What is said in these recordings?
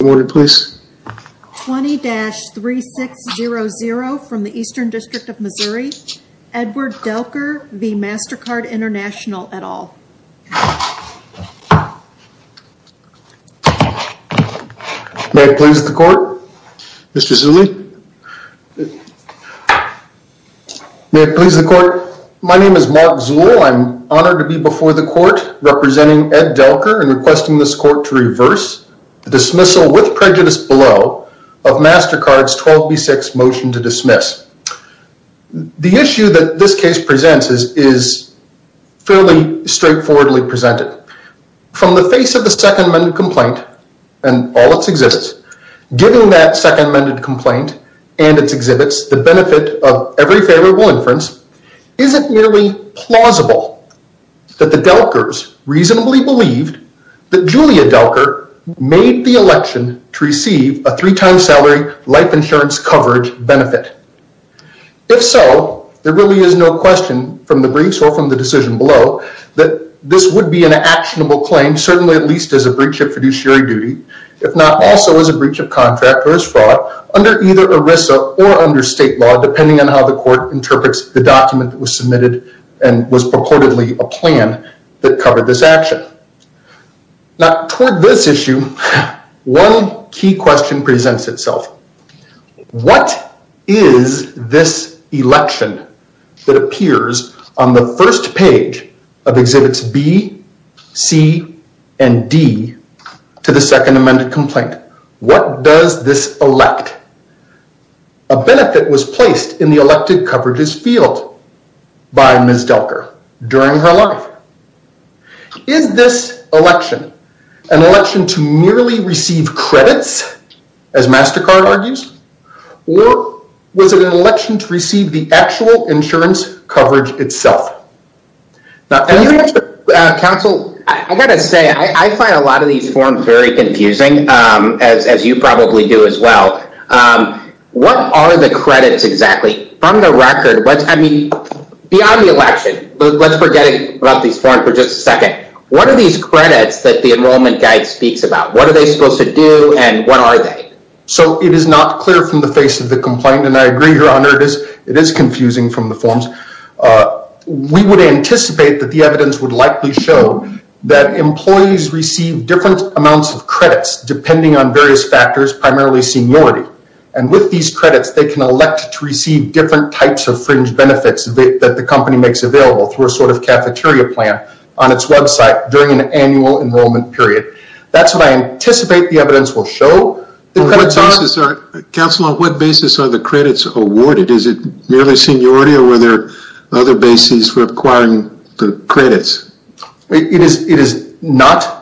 20-3600 from the Eastern District of Missouri, Edward Delker v. Mastercard International, et al. May it please the court. Mr. Zewde. May it please the court. My name is Mark Zewde. I'm honored to be before the court representing Ed Delker and requesting this court to reverse the dismissal with prejudice below of Mastercard's 12B6 motion to dismiss. The issue that this case presents is fairly straightforwardly presented. From the face of the Second Amended Complaint and all its exhibits, given that Second Amended Complaint and its exhibits, the benefit of every favorable inference, is it merely plausible that the Delkers reasonably believed that Julia Delker made the election to receive a three-time salary life insurance coverage benefit? If so, there really is no question from the briefs or from the decision below that this would be an actionable claim, certainly at least as a breach of fiduciary duty, if not also as a breach of contract or as fraud, under either ERISA or under state law, depending on how the court interprets the document that was submitted and was purportedly a plan that covered this action. Now, toward this issue, one key question presents itself. What is this election that appears on the first page of Exhibits B, C, and D to the Second Amended Complaint? What does this elect? A benefit was placed in the elected coverages field by Ms. Delker during her life. Is this election an election to merely receive credits, as MasterCard argues, or was it an election to receive the actual insurance coverage itself? Counsel, I've got to say, I find a lot of these forms very confusing, as you probably do as well. What are the credits exactly? From the record, beyond the election, let's forget about these forms for just a second. What are these credits that the Enrollment Guide speaks about? What are they supposed to do and what are they? So, it is not clear from the face of the complaint, and I agree, Your Honor, it is confusing from the forms. We would anticipate that the evidence would likely show that employees receive different amounts of credits, depending on various factors, primarily seniority. And with these credits, they can elect to receive different types of fringe benefits that the company makes available through a sort of cafeteria plan on its website during an annual enrollment period. That's what I anticipate the evidence will show. Counsel, on what basis are the credits awarded? Is it merely seniority or were there other bases for acquiring the credits? It is not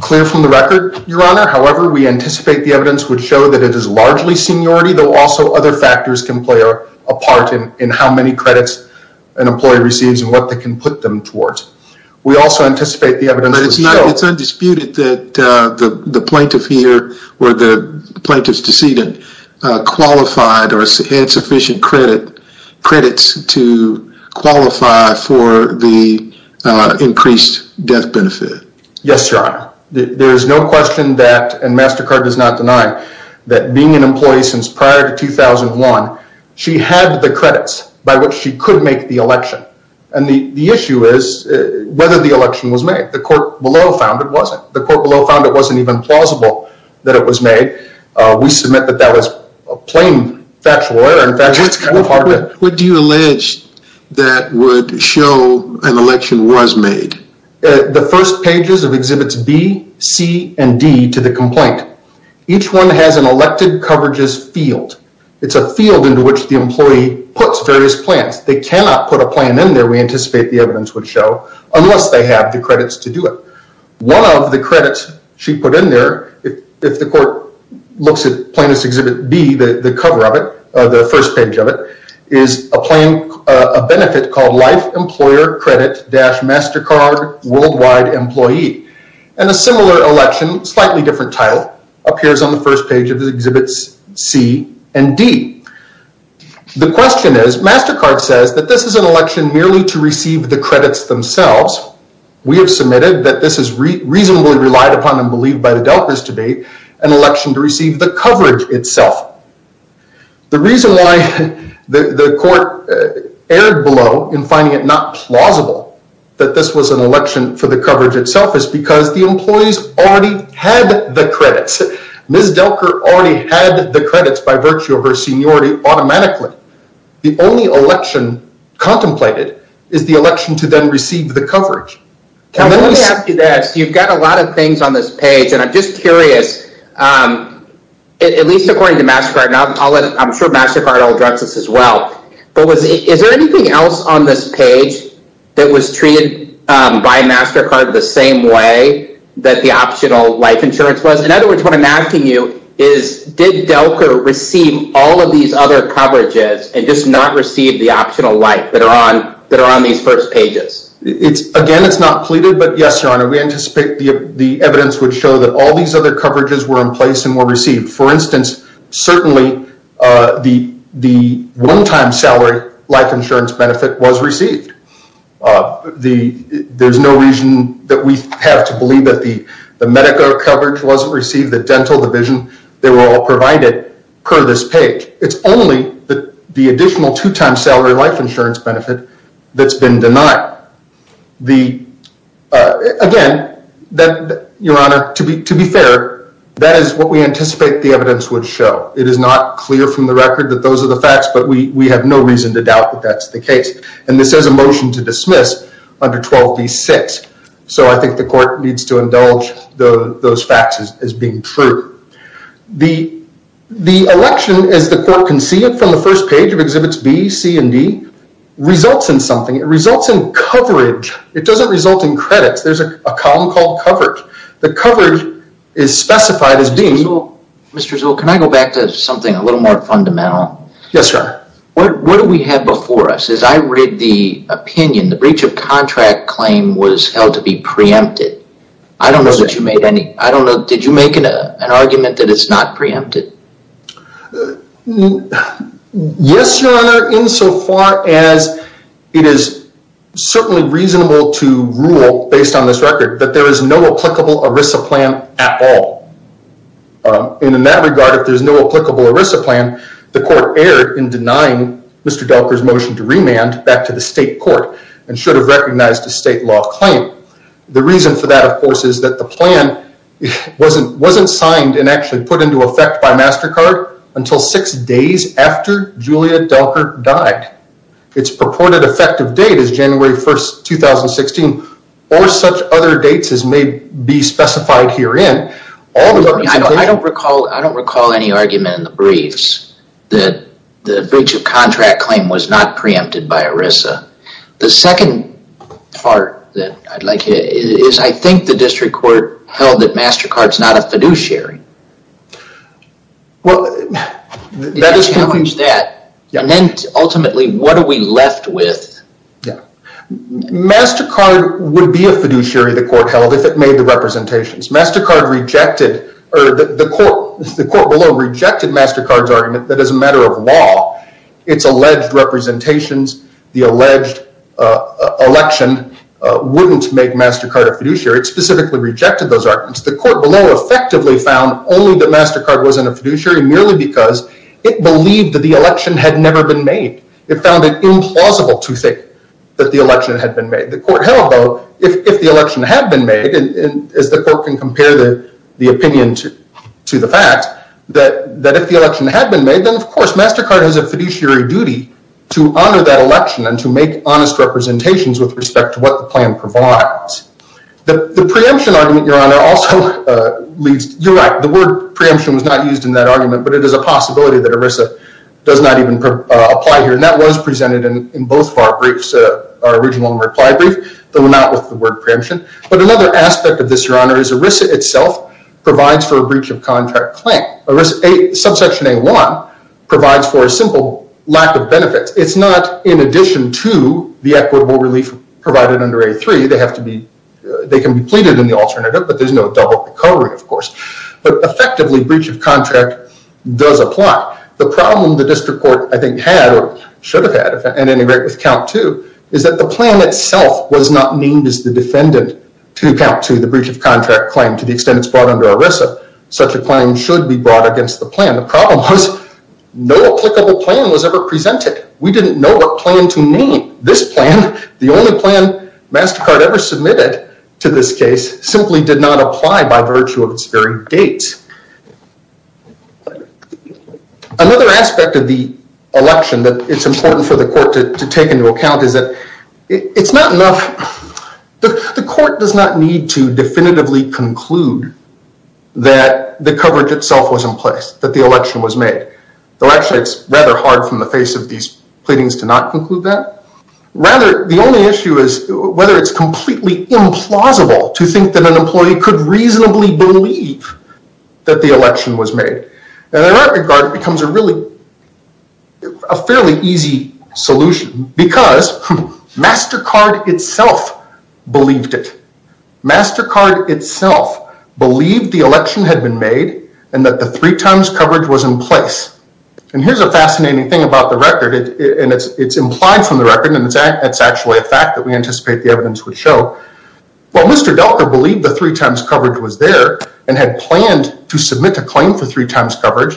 clear from the record, Your Honor. However, we anticipate the evidence would show that it is largely seniority, though also other factors can play a part in how many credits an employee receives and what they can put them towards. We also anticipate the evidence would show… But it's undisputed that the plaintiff here or the plaintiff's decedent qualified or had sufficient credits to qualify for the increased death benefit. Yes, Your Honor. There is no question that, and MasterCard does not deny, that being an employee since prior to 2001, she had the credits by which she could make the election. And the issue is whether the election was made. The court below found it wasn't. The court below found it wasn't even plausible that it was made. We submit that that was a plain factual error. In fact, it's kind of hard to… What do you allege that would show an election was made? The first pages of Exhibits B, C, and D to the complaint. Each one has an elected coverages field. It's a field into which the employee puts various plans. They cannot put a plan in there, we anticipate the evidence would show, unless they have the credits to do it. One of the credits she put in there, if the court looks at Plaintiff's Exhibit B, the cover of it, the first page of it, is a benefit called Life Employer Credit-MasterCard Worldwide Employee. And a similar election, slightly different title, appears on the first page of Exhibits C and D. The question is, MasterCard says that this is an election merely to receive the credits themselves. We have submitted that this is reasonably relied upon and believed by the Delkers to date, an election to receive the coverage itself. The reason why the court erred below in finding it not plausible that this was an election for the coverage itself is because the employees already had the credits. Ms. Delker already had the credits by virtue of her seniority automatically. The only election contemplated is the election to then receive the coverage. Let me ask you this, you've got a lot of things on this page, and I'm just curious, at least according to MasterCard, and I'm sure MasterCard addresses this as well, but is there anything else on this page that was treated by MasterCard the same way that the optional life insurance was? In other words, what I'm asking you is, did Delker receive all of these other coverages and just not receive the optional life that are on these first pages? Again, it's not pleaded, but yes, Your Honor, we anticipate the evidence would show that all these other coverages were in place and were received. For instance, certainly the one-time salary life insurance benefit was received. There's no reason that we have to believe that the medical coverage wasn't received, that dental, the vision, they were all provided per this page. It's only the additional two-time salary life insurance benefit that's been denied. Again, Your Honor, to be fair, that is what we anticipate the evidence would show. It is not clear from the record that those are the facts, but we have no reason to doubt that that's the case, and this is a motion to dismiss under 12b-6, so I think the court needs to indulge those facts as being true. The election, as the court can see it from the first page of Exhibits B, C, and D, results in something. It results in coverage. It doesn't result in credits. There's a column called coverage. The coverage is specified as being... Mr. Zuhl, can I go back to something a little more fundamental? Yes, sir. What do we have before us? As I read the opinion, the breach of contract claim was held to be preempted. I don't know that you made any... Did you make an argument that it's not preempted? Yes, Your Honor, insofar as it is certainly reasonable to rule, based on this record, that there is no applicable ERISA plan at all. And in that regard, if there's no applicable ERISA plan, the court erred in denying Mr. Delker's motion to remand back to the state court and should have recognized a state law claim. The reason for that, of course, is that the plan wasn't signed and actually put into effect by MasterCard until six days after Julia Delker died. Its purported effective date is January 1st, 2016, or such other dates as may be specified herein. I don't recall any argument in the briefs. That the breach of contract claim was not preempted by ERISA. The second part that I'd like to... is I think the district court held that MasterCard's not a fiduciary. Well, that is... And then, ultimately, what are we left with? MasterCard would be a fiduciary the court held if it made the representations. MasterCard rejected... The court below rejected MasterCard's argument that as a matter of law, its alleged representations, the alleged election, wouldn't make MasterCard a fiduciary. It specifically rejected those arguments. The court below effectively found only that MasterCard wasn't a fiduciary merely because it believed that the election had never been made. It found it implausible to think that the election had been made. The court held, though, if the election had been made, as the court can compare the opinion to the fact, that if the election had been made, then, of course, MasterCard has a fiduciary duty to honor that election and to make honest representations with respect to what the plan provides. The preemption argument, Your Honor, also leaves... You're right, the word preemption was not used in that argument, but it is a possibility that ERISA does not even apply here. And that was presented in both of our briefs, our original and reply brief, though not with the word preemption. But another aspect of this, Your Honor, is ERISA itself provides for a breach of contract claim. Subsection A-1 provides for a simple lack of benefits. It's not in addition to the equitable relief provided under A-3. They have to be... They can be pleaded in the alternative, but there's no double recovery, of course. But effectively, breach of contract does apply. The problem the district court, I think, had or should have had, and integrate with count two, is that the plan itself was not named as the defendant to account to the breach of contract claim to the extent it's brought under ERISA. Such a claim should be brought against the plan. The problem was no applicable plan was ever presented. We didn't know what plan to name. This plan, the only plan MasterCard ever submitted to this case, simply did not apply by virtue of its very date. Another aspect of the election that it's important for the court to take into account is that it's not enough... The court does not need to definitively conclude that the coverage itself was in place, that the election was made. Actually, it's rather hard from the face of these pleadings to not conclude that. Rather, the only issue is whether it's completely implausible to think that an employee could reasonably believe that the election was made. In that regard, it becomes a really... MasterCard itself believed it. MasterCard itself believed the election had been made and that the three times coverage was in place. Here's a fascinating thing about the record. It's implied from the record and it's actually a fact that we anticipate the evidence would show. While Mr. Delka believed the three times coverage was there and had planned to submit a claim for three times coverage,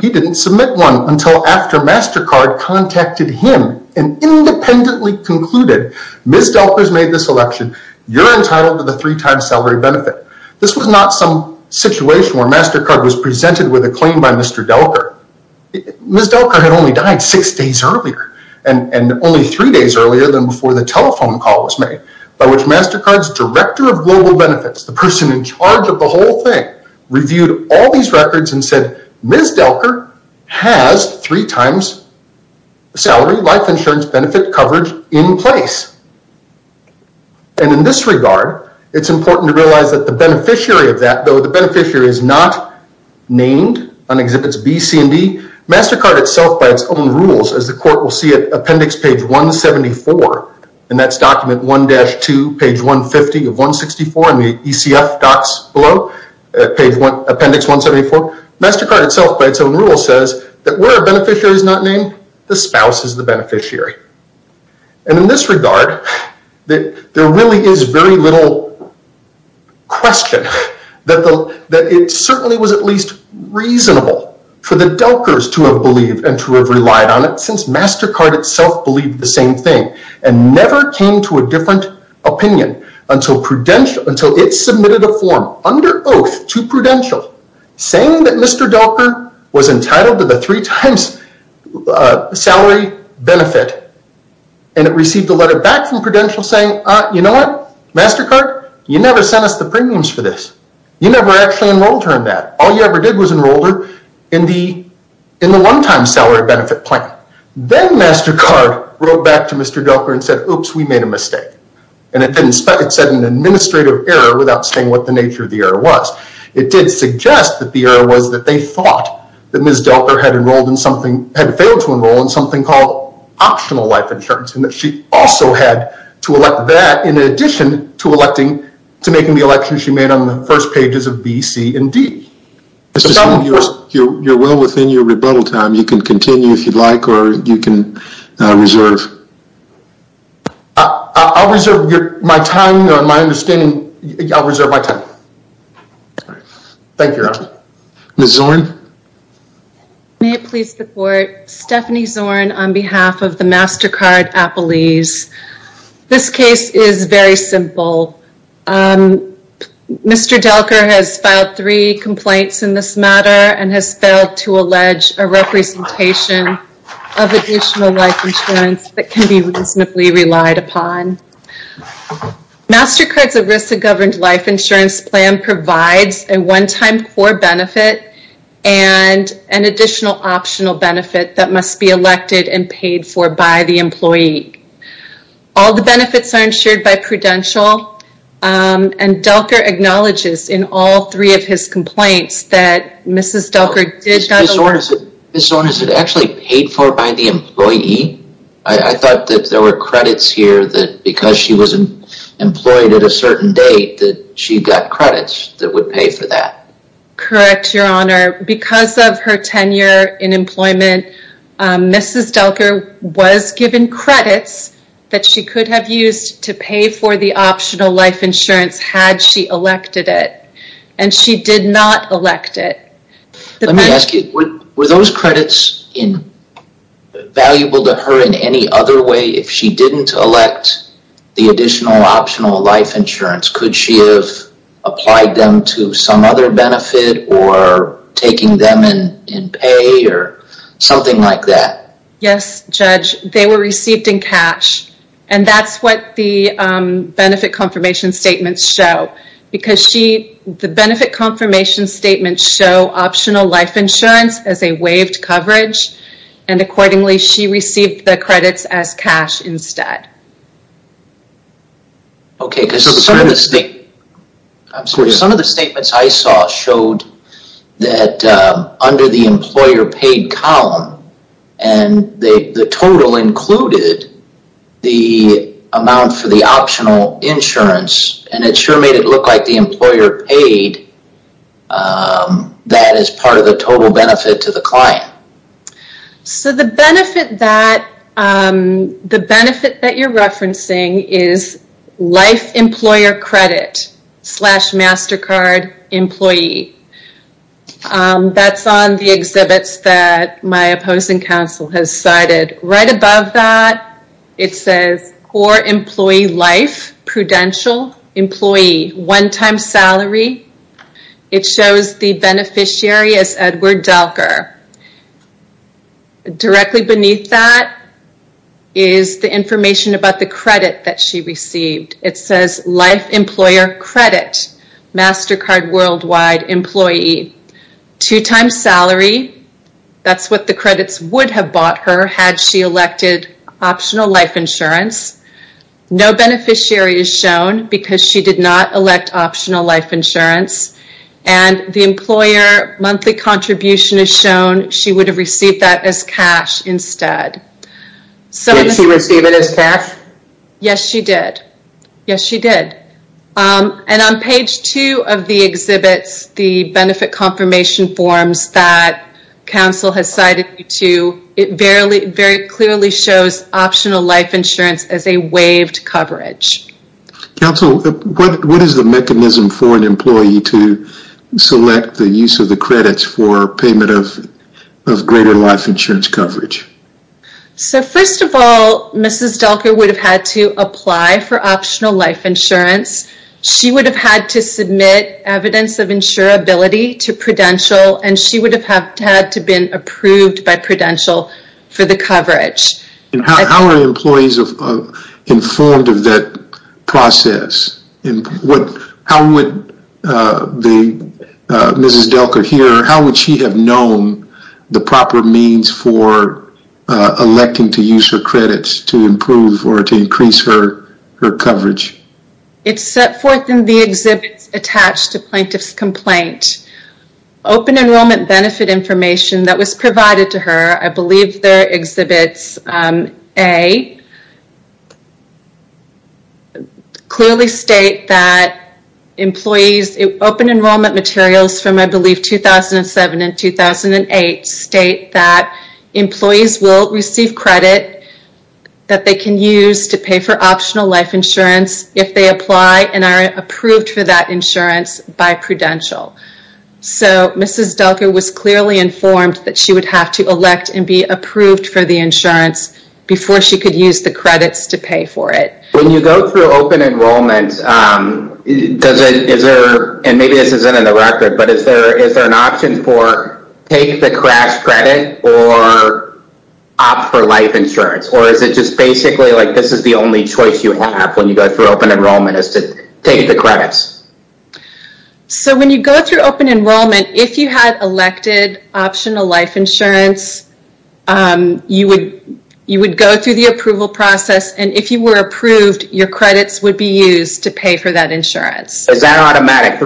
he didn't submit one until after MasterCard contacted him and independently concluded, Ms. Delka has made this election. You're entitled to the three times salary benefit. This was not some situation where MasterCard was presented with a claim by Mr. Delka. Ms. Delka had only died six days earlier and only three days earlier than before the telephone call was made by which MasterCard's Director of Global Benefits, the person in charge of the whole thing, reviewed all these records and said, Ms. Delka has three times salary, life insurance benefit coverage in place. And in this regard, it's important to realize that the beneficiary of that, though the beneficiary is not named on Exhibits B, C, and D, MasterCard itself, by its own rules, as the court will see at Appendix Page 174, and that's Document 1-2, Page 150 of 164 in the ECF docs below, Appendix 174, MasterCard itself, by its own rules, says that where a beneficiary is not named, the spouse is the beneficiary. And in this regard, there really is very little question that it certainly was at least reasonable for the Delkers to have believed and to have relied on it since MasterCard itself believed the same thing and never came to a different opinion until it submitted a form under oath to Prudential saying that Mr. Delker was entitled to the three times salary benefit and it received a letter back from Prudential saying, you know what, MasterCard, you never sent us the premiums for this. You never actually enrolled her in that. All you ever did was enroll her in the one-time salary benefit plan. Then MasterCard wrote back to Mr. Delker and said, oops, we made a mistake. And it said an administrative error without saying what the nature of the error was. It did suggest that the error was that they thought that Ms. Delker had failed to enroll in something called optional life insurance and that she also had to elect that in addition to making the election she made on the first pages of B, C, and D. You're well within your rebuttal time. You can continue if you'd like, or you can reserve. I'll reserve my time. My understanding, I'll reserve my time. Thank you, Ron. Ms. Zorn? May it please the Court, Stephanie Zorn on behalf of the MasterCard appellees. This case is very simple. Mr. Delker has filed three complaints in this matter and has failed to allege a representation of additional life insurance that can be reasonably relied upon. MasterCard's ERISA-governed life insurance plan provides a one-time core benefit and an additional optional benefit that must be elected and paid for by the employee. All the benefits are insured by Prudential and Delker acknowledges in all three of his complaints that Ms. Delker did not... Ms. Zorn, is it actually paid for by the employee? I thought that there were credits here that because she was employed at a certain date that she got credits that would pay for that. Correct, Your Honor. Because of her tenure in employment, Ms. Delker was given credits that she could have used to pay for the optional life insurance had she elected it. And she did not elect it. Let me ask you, were those credits valuable to her in any other way if she didn't elect the additional optional life insurance? Would she have applied them to some other benefit or taking them in pay or something like that? Yes, Judge. They were received in cash and that's what the benefit confirmation statements show. Because the benefit confirmation statements show optional life insurance as a waived coverage and accordingly she received the credits as cash instead. Okay. Some of the statements I saw showed that under the employer paid column and the total included the amount for the optional insurance and it sure made it look like the employer paid that as part of the total benefit to the client. So the benefit that you're referencing is life employer credit slash MasterCard employee. That's on the exhibits that my opposing counsel has cited. Right above that it says core employee life prudential employee one time salary. It shows the beneficiary as Edward Delker. Directly beneath that is the information about the credit that she received. It says life employer credit MasterCard worldwide employee two times salary. That's what the credits would have bought her had she elected optional life insurance. No beneficiary is shown because she did not elect optional life insurance and the employer monthly contribution is shown she would have received that as cash instead. Did she receive it as cash? Yes she did. Yes she did. And on page two of the exhibits the benefit confirmation forms that counsel has cited you to it very clearly shows optional life insurance as a waived coverage. Counsel, what is the mechanism for an employee to select the use of the credits for payment of greater life insurance coverage? So first of all Mrs. Delker would have had to apply for optional life insurance. She would have had to submit evidence of insurability to prudential and she would have had to been approved by prudential for the coverage. And how are employees informed of that process? How would Mrs. Delker here how would she have known the proper means for electing to use her credits to improve or to increase her coverage? It's set forth in the exhibits attached to plaintiff's complaint. Open enrollment benefit information that was provided to her I believe they're exhibits A clearly state that employees open enrollment materials from I believe 2007 and 2008 state that employees will receive credit that they can use to pay for optional life insurance if they apply and are approved for that insurance by prudential. So Mrs. Delker was clearly informed that she would have to elect and be approved for the insurance before she could use the credits to pay for it. When you go through open enrollment does it, is there and maybe this isn't in the record but is there an option for take the crash credit or opt for life insurance or is it just basically like this is the only choice you have when you go through open enrollment is to take the credits? So when you go through open enrollment if you had elected optional life insurance you would you would go through the approval process and if you were approved your credits would be used to pay for that insurance. Is that automatic?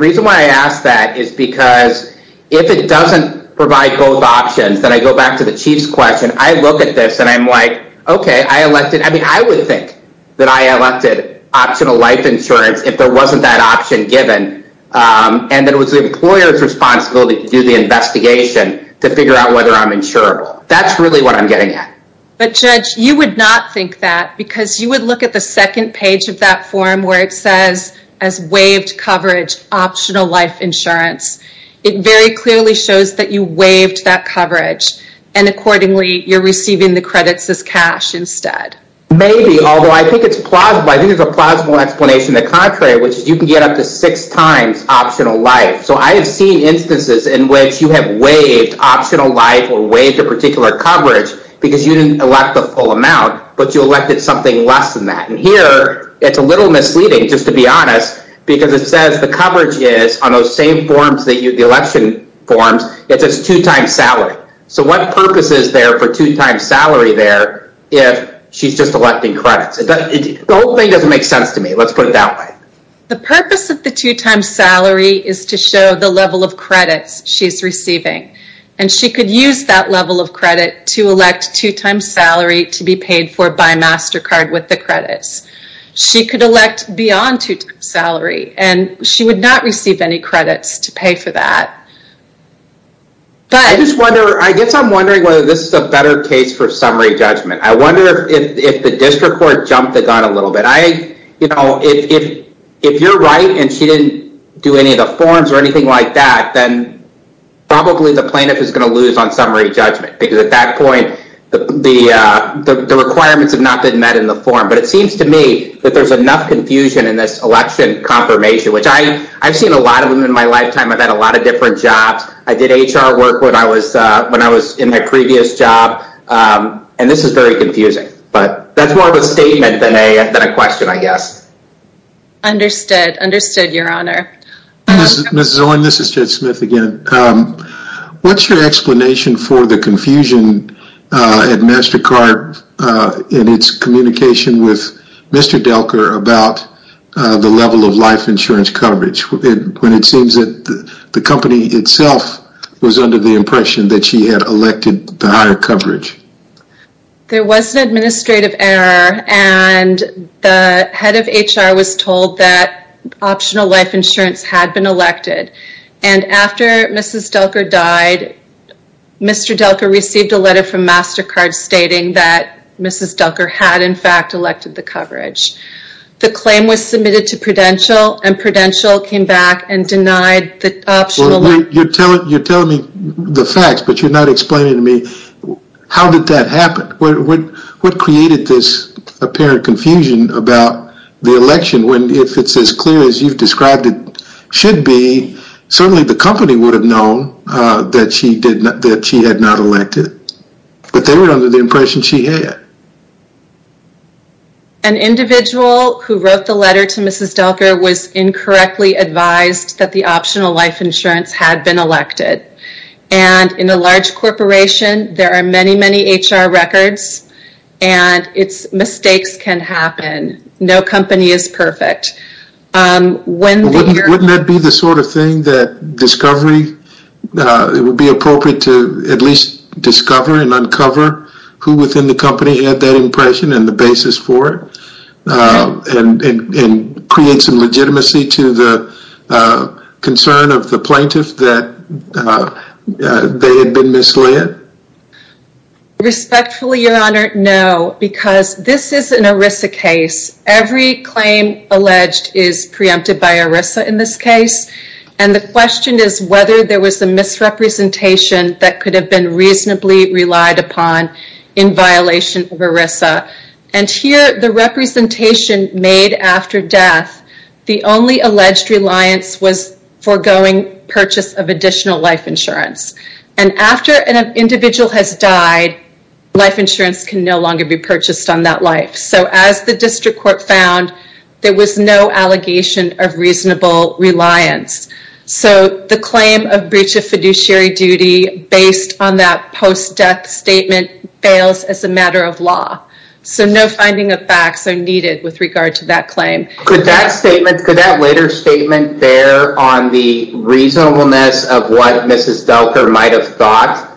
If I apply both options then I go back to the Chief's question I look at this and I'm like okay I elected, I mean I would think that I elected optional life insurance if there wasn't that option given and then it was the employer's responsibility to do the investigation to figure out whether I'm insurable. That's really what I'm getting at. But Judge you would not think that because you would look at the second page of that form where it says as waived coverage optional life insurance. You waived that coverage and accordingly you're receiving the credits as cash instead. Maybe although I think it's plausible I think there's a plausible explanation the contrary which is you can get up to six times optional life. So I have seen instances in which you have waived optional life or waived a particular coverage because you didn't elect the full amount but you elected something less than that. And here it's a little misleading just to be honest because it says the coverage is two times salary. So what purpose is there for two times salary there if she's just electing credits. The whole thing doesn't make sense to me. Let's put it that way. The purpose of the two times salary is to show the level of credits she's receiving and she could use that level of credit to elect two times salary to be paid for by MasterCard with the credits. She could elect beyond two times salary and she would not receive two times salary. I guess I'm wondering whether this is a better case for summary judgment. I wonder if the district court jumped the gun a little bit. If you're right and she didn't do any of the forms or anything like that then probably the plaintiff is going to lose on summary judgment because at that point the requirements have not been met in the form. But it seems to me that there's enough confusion in this election confirmation which I've seen a lot of them in my lifetime. I've had a lot of different jobs. I did HR work when I was in my previous job and this is very confusing. But that's more of a statement than a question, I guess. Understood. Understood, Your Honor. Ms. Zoen, this is Jed Smith again. What's your explanation for the confusion at MasterCard in its communication with Mr. Delker about the level of life insurance coverage when it seems that the company itself was under the impression that she had elected the higher coverage? There was an administrative error and the head of HR was told that had been elected. And after Mrs. Delker died Mr. Delker received a letter from MasterCard stating that Mrs. Delker had in fact elected the coverage. The claim was submitted to Prudential and Prudential came back and denied the optional... You're telling me the facts but you're not explaining to me how did that happen? What created this apparent confusion about the election when if it's as clear as you've described it should be certainly the company would have known that she had not elected. But they were under the impression that she had. An individual who wrote the letter to Mrs. Delker was incorrectly advised that the optional life insurance had been elected. And in a large corporation there are many, many HR records and mistakes can happen. No company is perfect. Wouldn't it be the sort of thing that discovery would be appropriate to at least discover who within the company had that impression and the basis for it? And create some legitimacy to the concern of the plaintiff that they had been misled? Respectfully, Your Honor, no. Because this is an ERISA case. Every claim alleged is preempted by ERISA in this case. And the question is whether there was a misrepresentation that could have been reasonably relied upon in violation of ERISA. And here, the representation made after death, the only alleged reliance was foregoing purchase of additional life insurance. And after an individual has died, life insurance can no longer be purchased on that life. So as the District Court found, there was no allegation of reasonable reliance. So the claim of breach based on that post-death statement fails as a matter of law. So no finding of facts are needed with regard to that claim. Could that statement, could that later statement bear on the reasonableness of what Mrs. Delker might have thought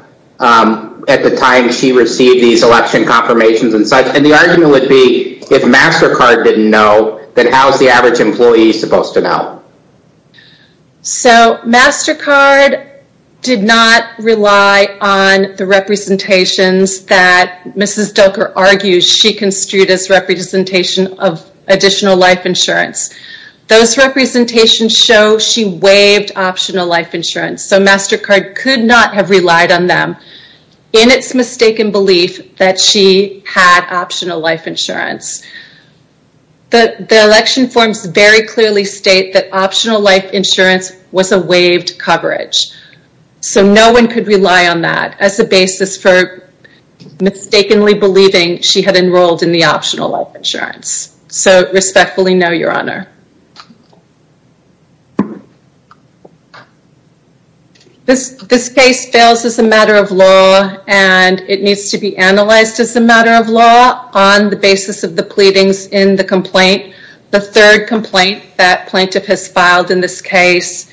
at the time she received these election confirmations and such? And the argument would be if MasterCard didn't know, then how's the average employee supposed to know? So MasterCard did not rely on the representations that Mrs. Delker argues she construed as representation of additional life insurance. Those representations show she waived optional life insurance. So MasterCard could not have relied on them in its mistaken belief that she had optional life insurance. The election forms very clearly state that optional life insurance was a waived coverage. She did not rely on that as a basis for mistakenly believing she had enrolled in the optional life insurance. So respectfully no, Your Honor. This case fails as a matter of law and it needs to be analyzed as a matter of law on the basis of the pleadings in the complaint. The third complaint that plaintiff has filed in this case,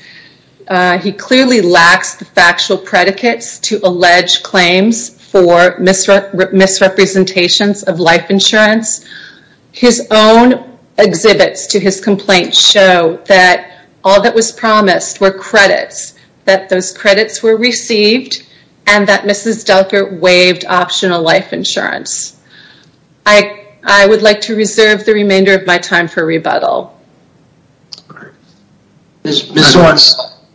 he clearly lacks the factual predicates to allege claims for misrepresentations of life insurance. His own exhibits to his complaint show that all that was promised were credits, that those credits were received and that Mrs. Delker waived optional life insurance. I would like to reserve the remainder of my time for rebuttal. Your Honor,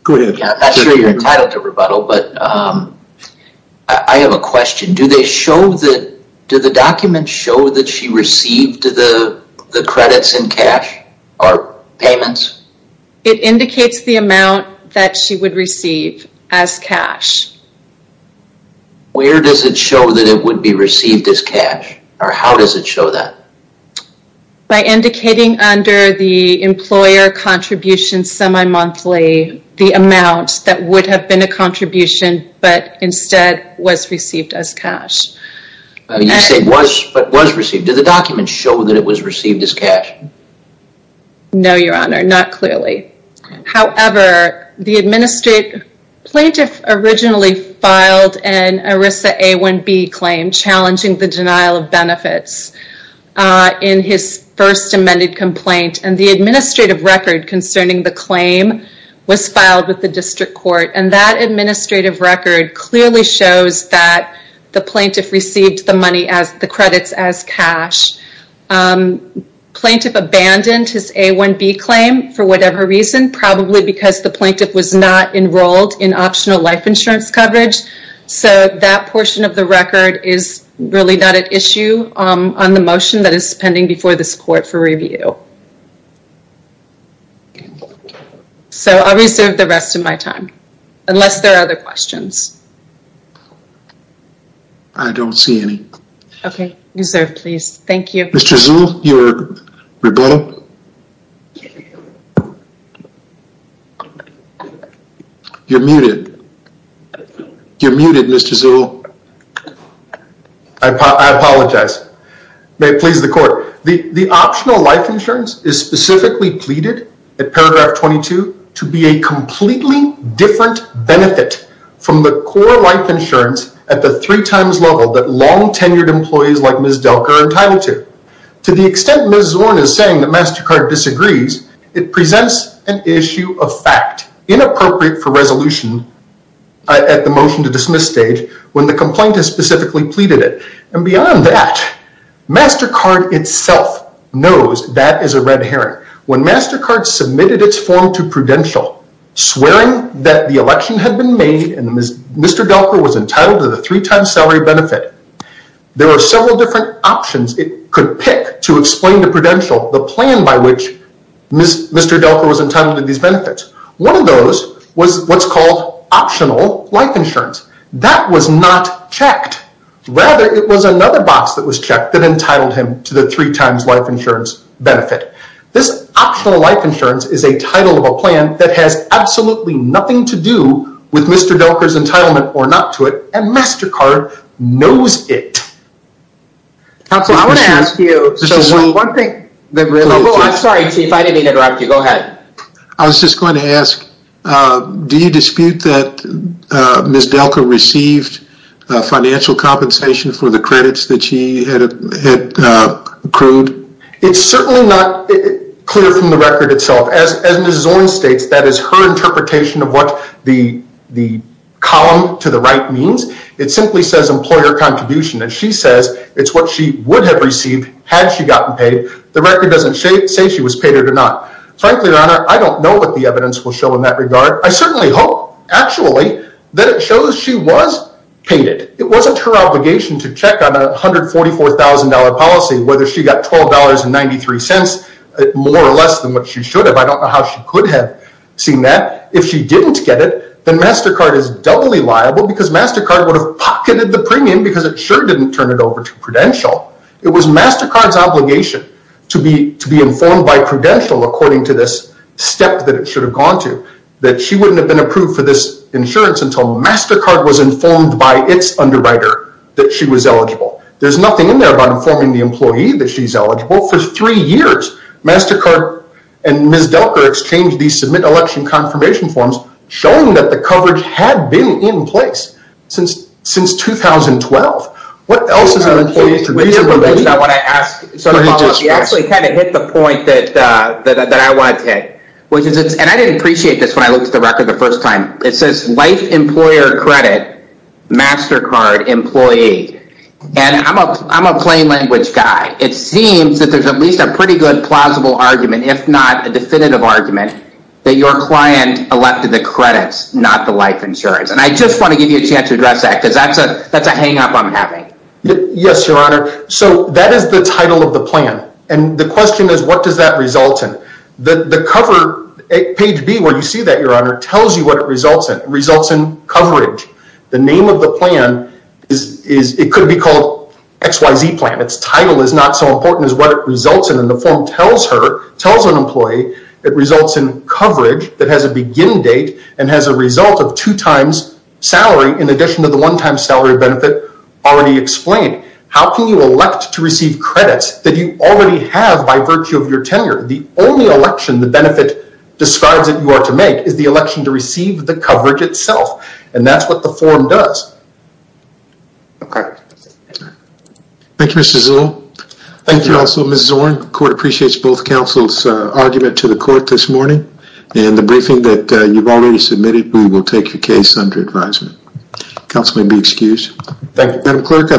I'm not sure you're entitled to rebuttal, but I have a question. Do the documents show that she received the credits in cash or payments? It indicates the amount that she would receive as cash. Where does it show that it would be received as cash or how does it show that? By indicating under the employer contribution the amount that would have been a contribution but instead was received as cash. You said was, but was received. Do the documents show that it was received as cash? No, Your Honor, not clearly. However, the plaintiff originally filed an ERISA A1B claim challenging the denial of benefits in his first amended complaint and the administrative record was filed with the district court and that administrative record clearly shows that the plaintiff received the credits as cash. Plaintiff abandoned his A1B claim for whatever reason, probably because the plaintiff was not enrolled in optional life insurance coverage, so that portion of the record is really not at issue on the motion that is pending before this court for review. Okay. So I'll reserve the rest of my time unless there are other questions. I don't see any. Okay, you're served please. Thank you. Mr. Zuhl, you're rebuttal. You're muted. You're muted, Mr. Zuhl. I apologize. May it please the court. The optional life insurance is specifically pleaded at paragraph 22 to be a completely different benefit from the core life insurance at the three times level that long tenured employees like Ms. Delker are entitled to. To the extent Ms. Zorn is saying that MasterCard disagrees, it presents an issue of fact inappropriate for resolution at the motion to dismiss stage when the complaint has specifically pleaded it. And beyond that, MasterCard itself knows that is a red herring. When MasterCard submitted its form to Prudential swearing that the election had been made and Mr. Delker was entitled to the three times salary benefit, there were several different options it could pick to explain to Prudential the plan by which Mr. Delker was entitled to these benefits. One of those was what's called optional life insurance. That was not checked. Rather, it was another box that was checked that entitled him to the three times life insurance benefit. This optional life insurance is a title of a plan that has absolutely nothing to do with Mr. Delker's entitlement or not to it and MasterCard knows it. I want to ask you one thing. I'm sorry if I didn't interrupt you. Go ahead. I was just going to ask do you dispute that Ms. Delker received financial compensation for the credits that she had accrued? It's certainly not clear from the record itself. As Ms. Zorn states that is her interpretation of what the column to the right means. It simply says employer contribution and she says it's what she would have received had she gotten paid. The record doesn't say she was paid or not. Frankly, Your Honor, I don't know what the evidence will show in that regard. I certainly hope actually that it shows she was paid. It wasn't her obligation to check on a $144,000 policy whether she got $12.93 more or less than what she should have. I don't know how she could have seen that. If she didn't get it then MasterCard is doubly liable because MasterCard would have pocketed the premium because it sure didn't turn it over to Prudential. It was MasterCard's to be informed by Prudential according to this step that it should have gone to. That she wouldn't have been approved for this insurance until MasterCard was informed by its underwriter that she was eligible. There's nothing in there about informing the employee that she's eligible for three years. MasterCard and Ms. Delker exchanged these submit election confirmation forms showing that the coverage had been in place since 2012. What else is an employee to read and believe? I want to ask you actually kind of hit the point that I wanted to hit. I didn't appreciate this when I looked at the record the first time. It says Life Employer Credit MasterCard Employee. And I'm a plain language guy. It seems that there's at least a pretty good plausible argument if not a definitive argument that your client elected the credits not the life insurance. And I just want to give you a chance to address that because that's a hang up I'm having. Yes, Your Honor. So that is the title of the plan. And the question is what does that result in? The cover at page B where you see that the name of the plan, Your Honor, tells you what it results in. It results in coverage. The name of the plan it could be called XYZ plan. It's title is not so important as what it results in. And the form tells her tells an employee it results in coverage that has a begin date and has a result of two times salary in addition to the one time salary benefit already explained. How can you elect to receive credits that you already have by virtue of your tenure? The only election the benefit describes that you are to make is the election to receive the coverage itself. And that's what the form does. Okay. Thank you, Mr. Zul. Thank you, counsel. Ms. Zorn, the court appreciates both counsel's argument to the court this morning. that you've already submitted, we will take your case under advisement. Counsel may be excused. Thank you. Madam Clerk, I believe that's all for today.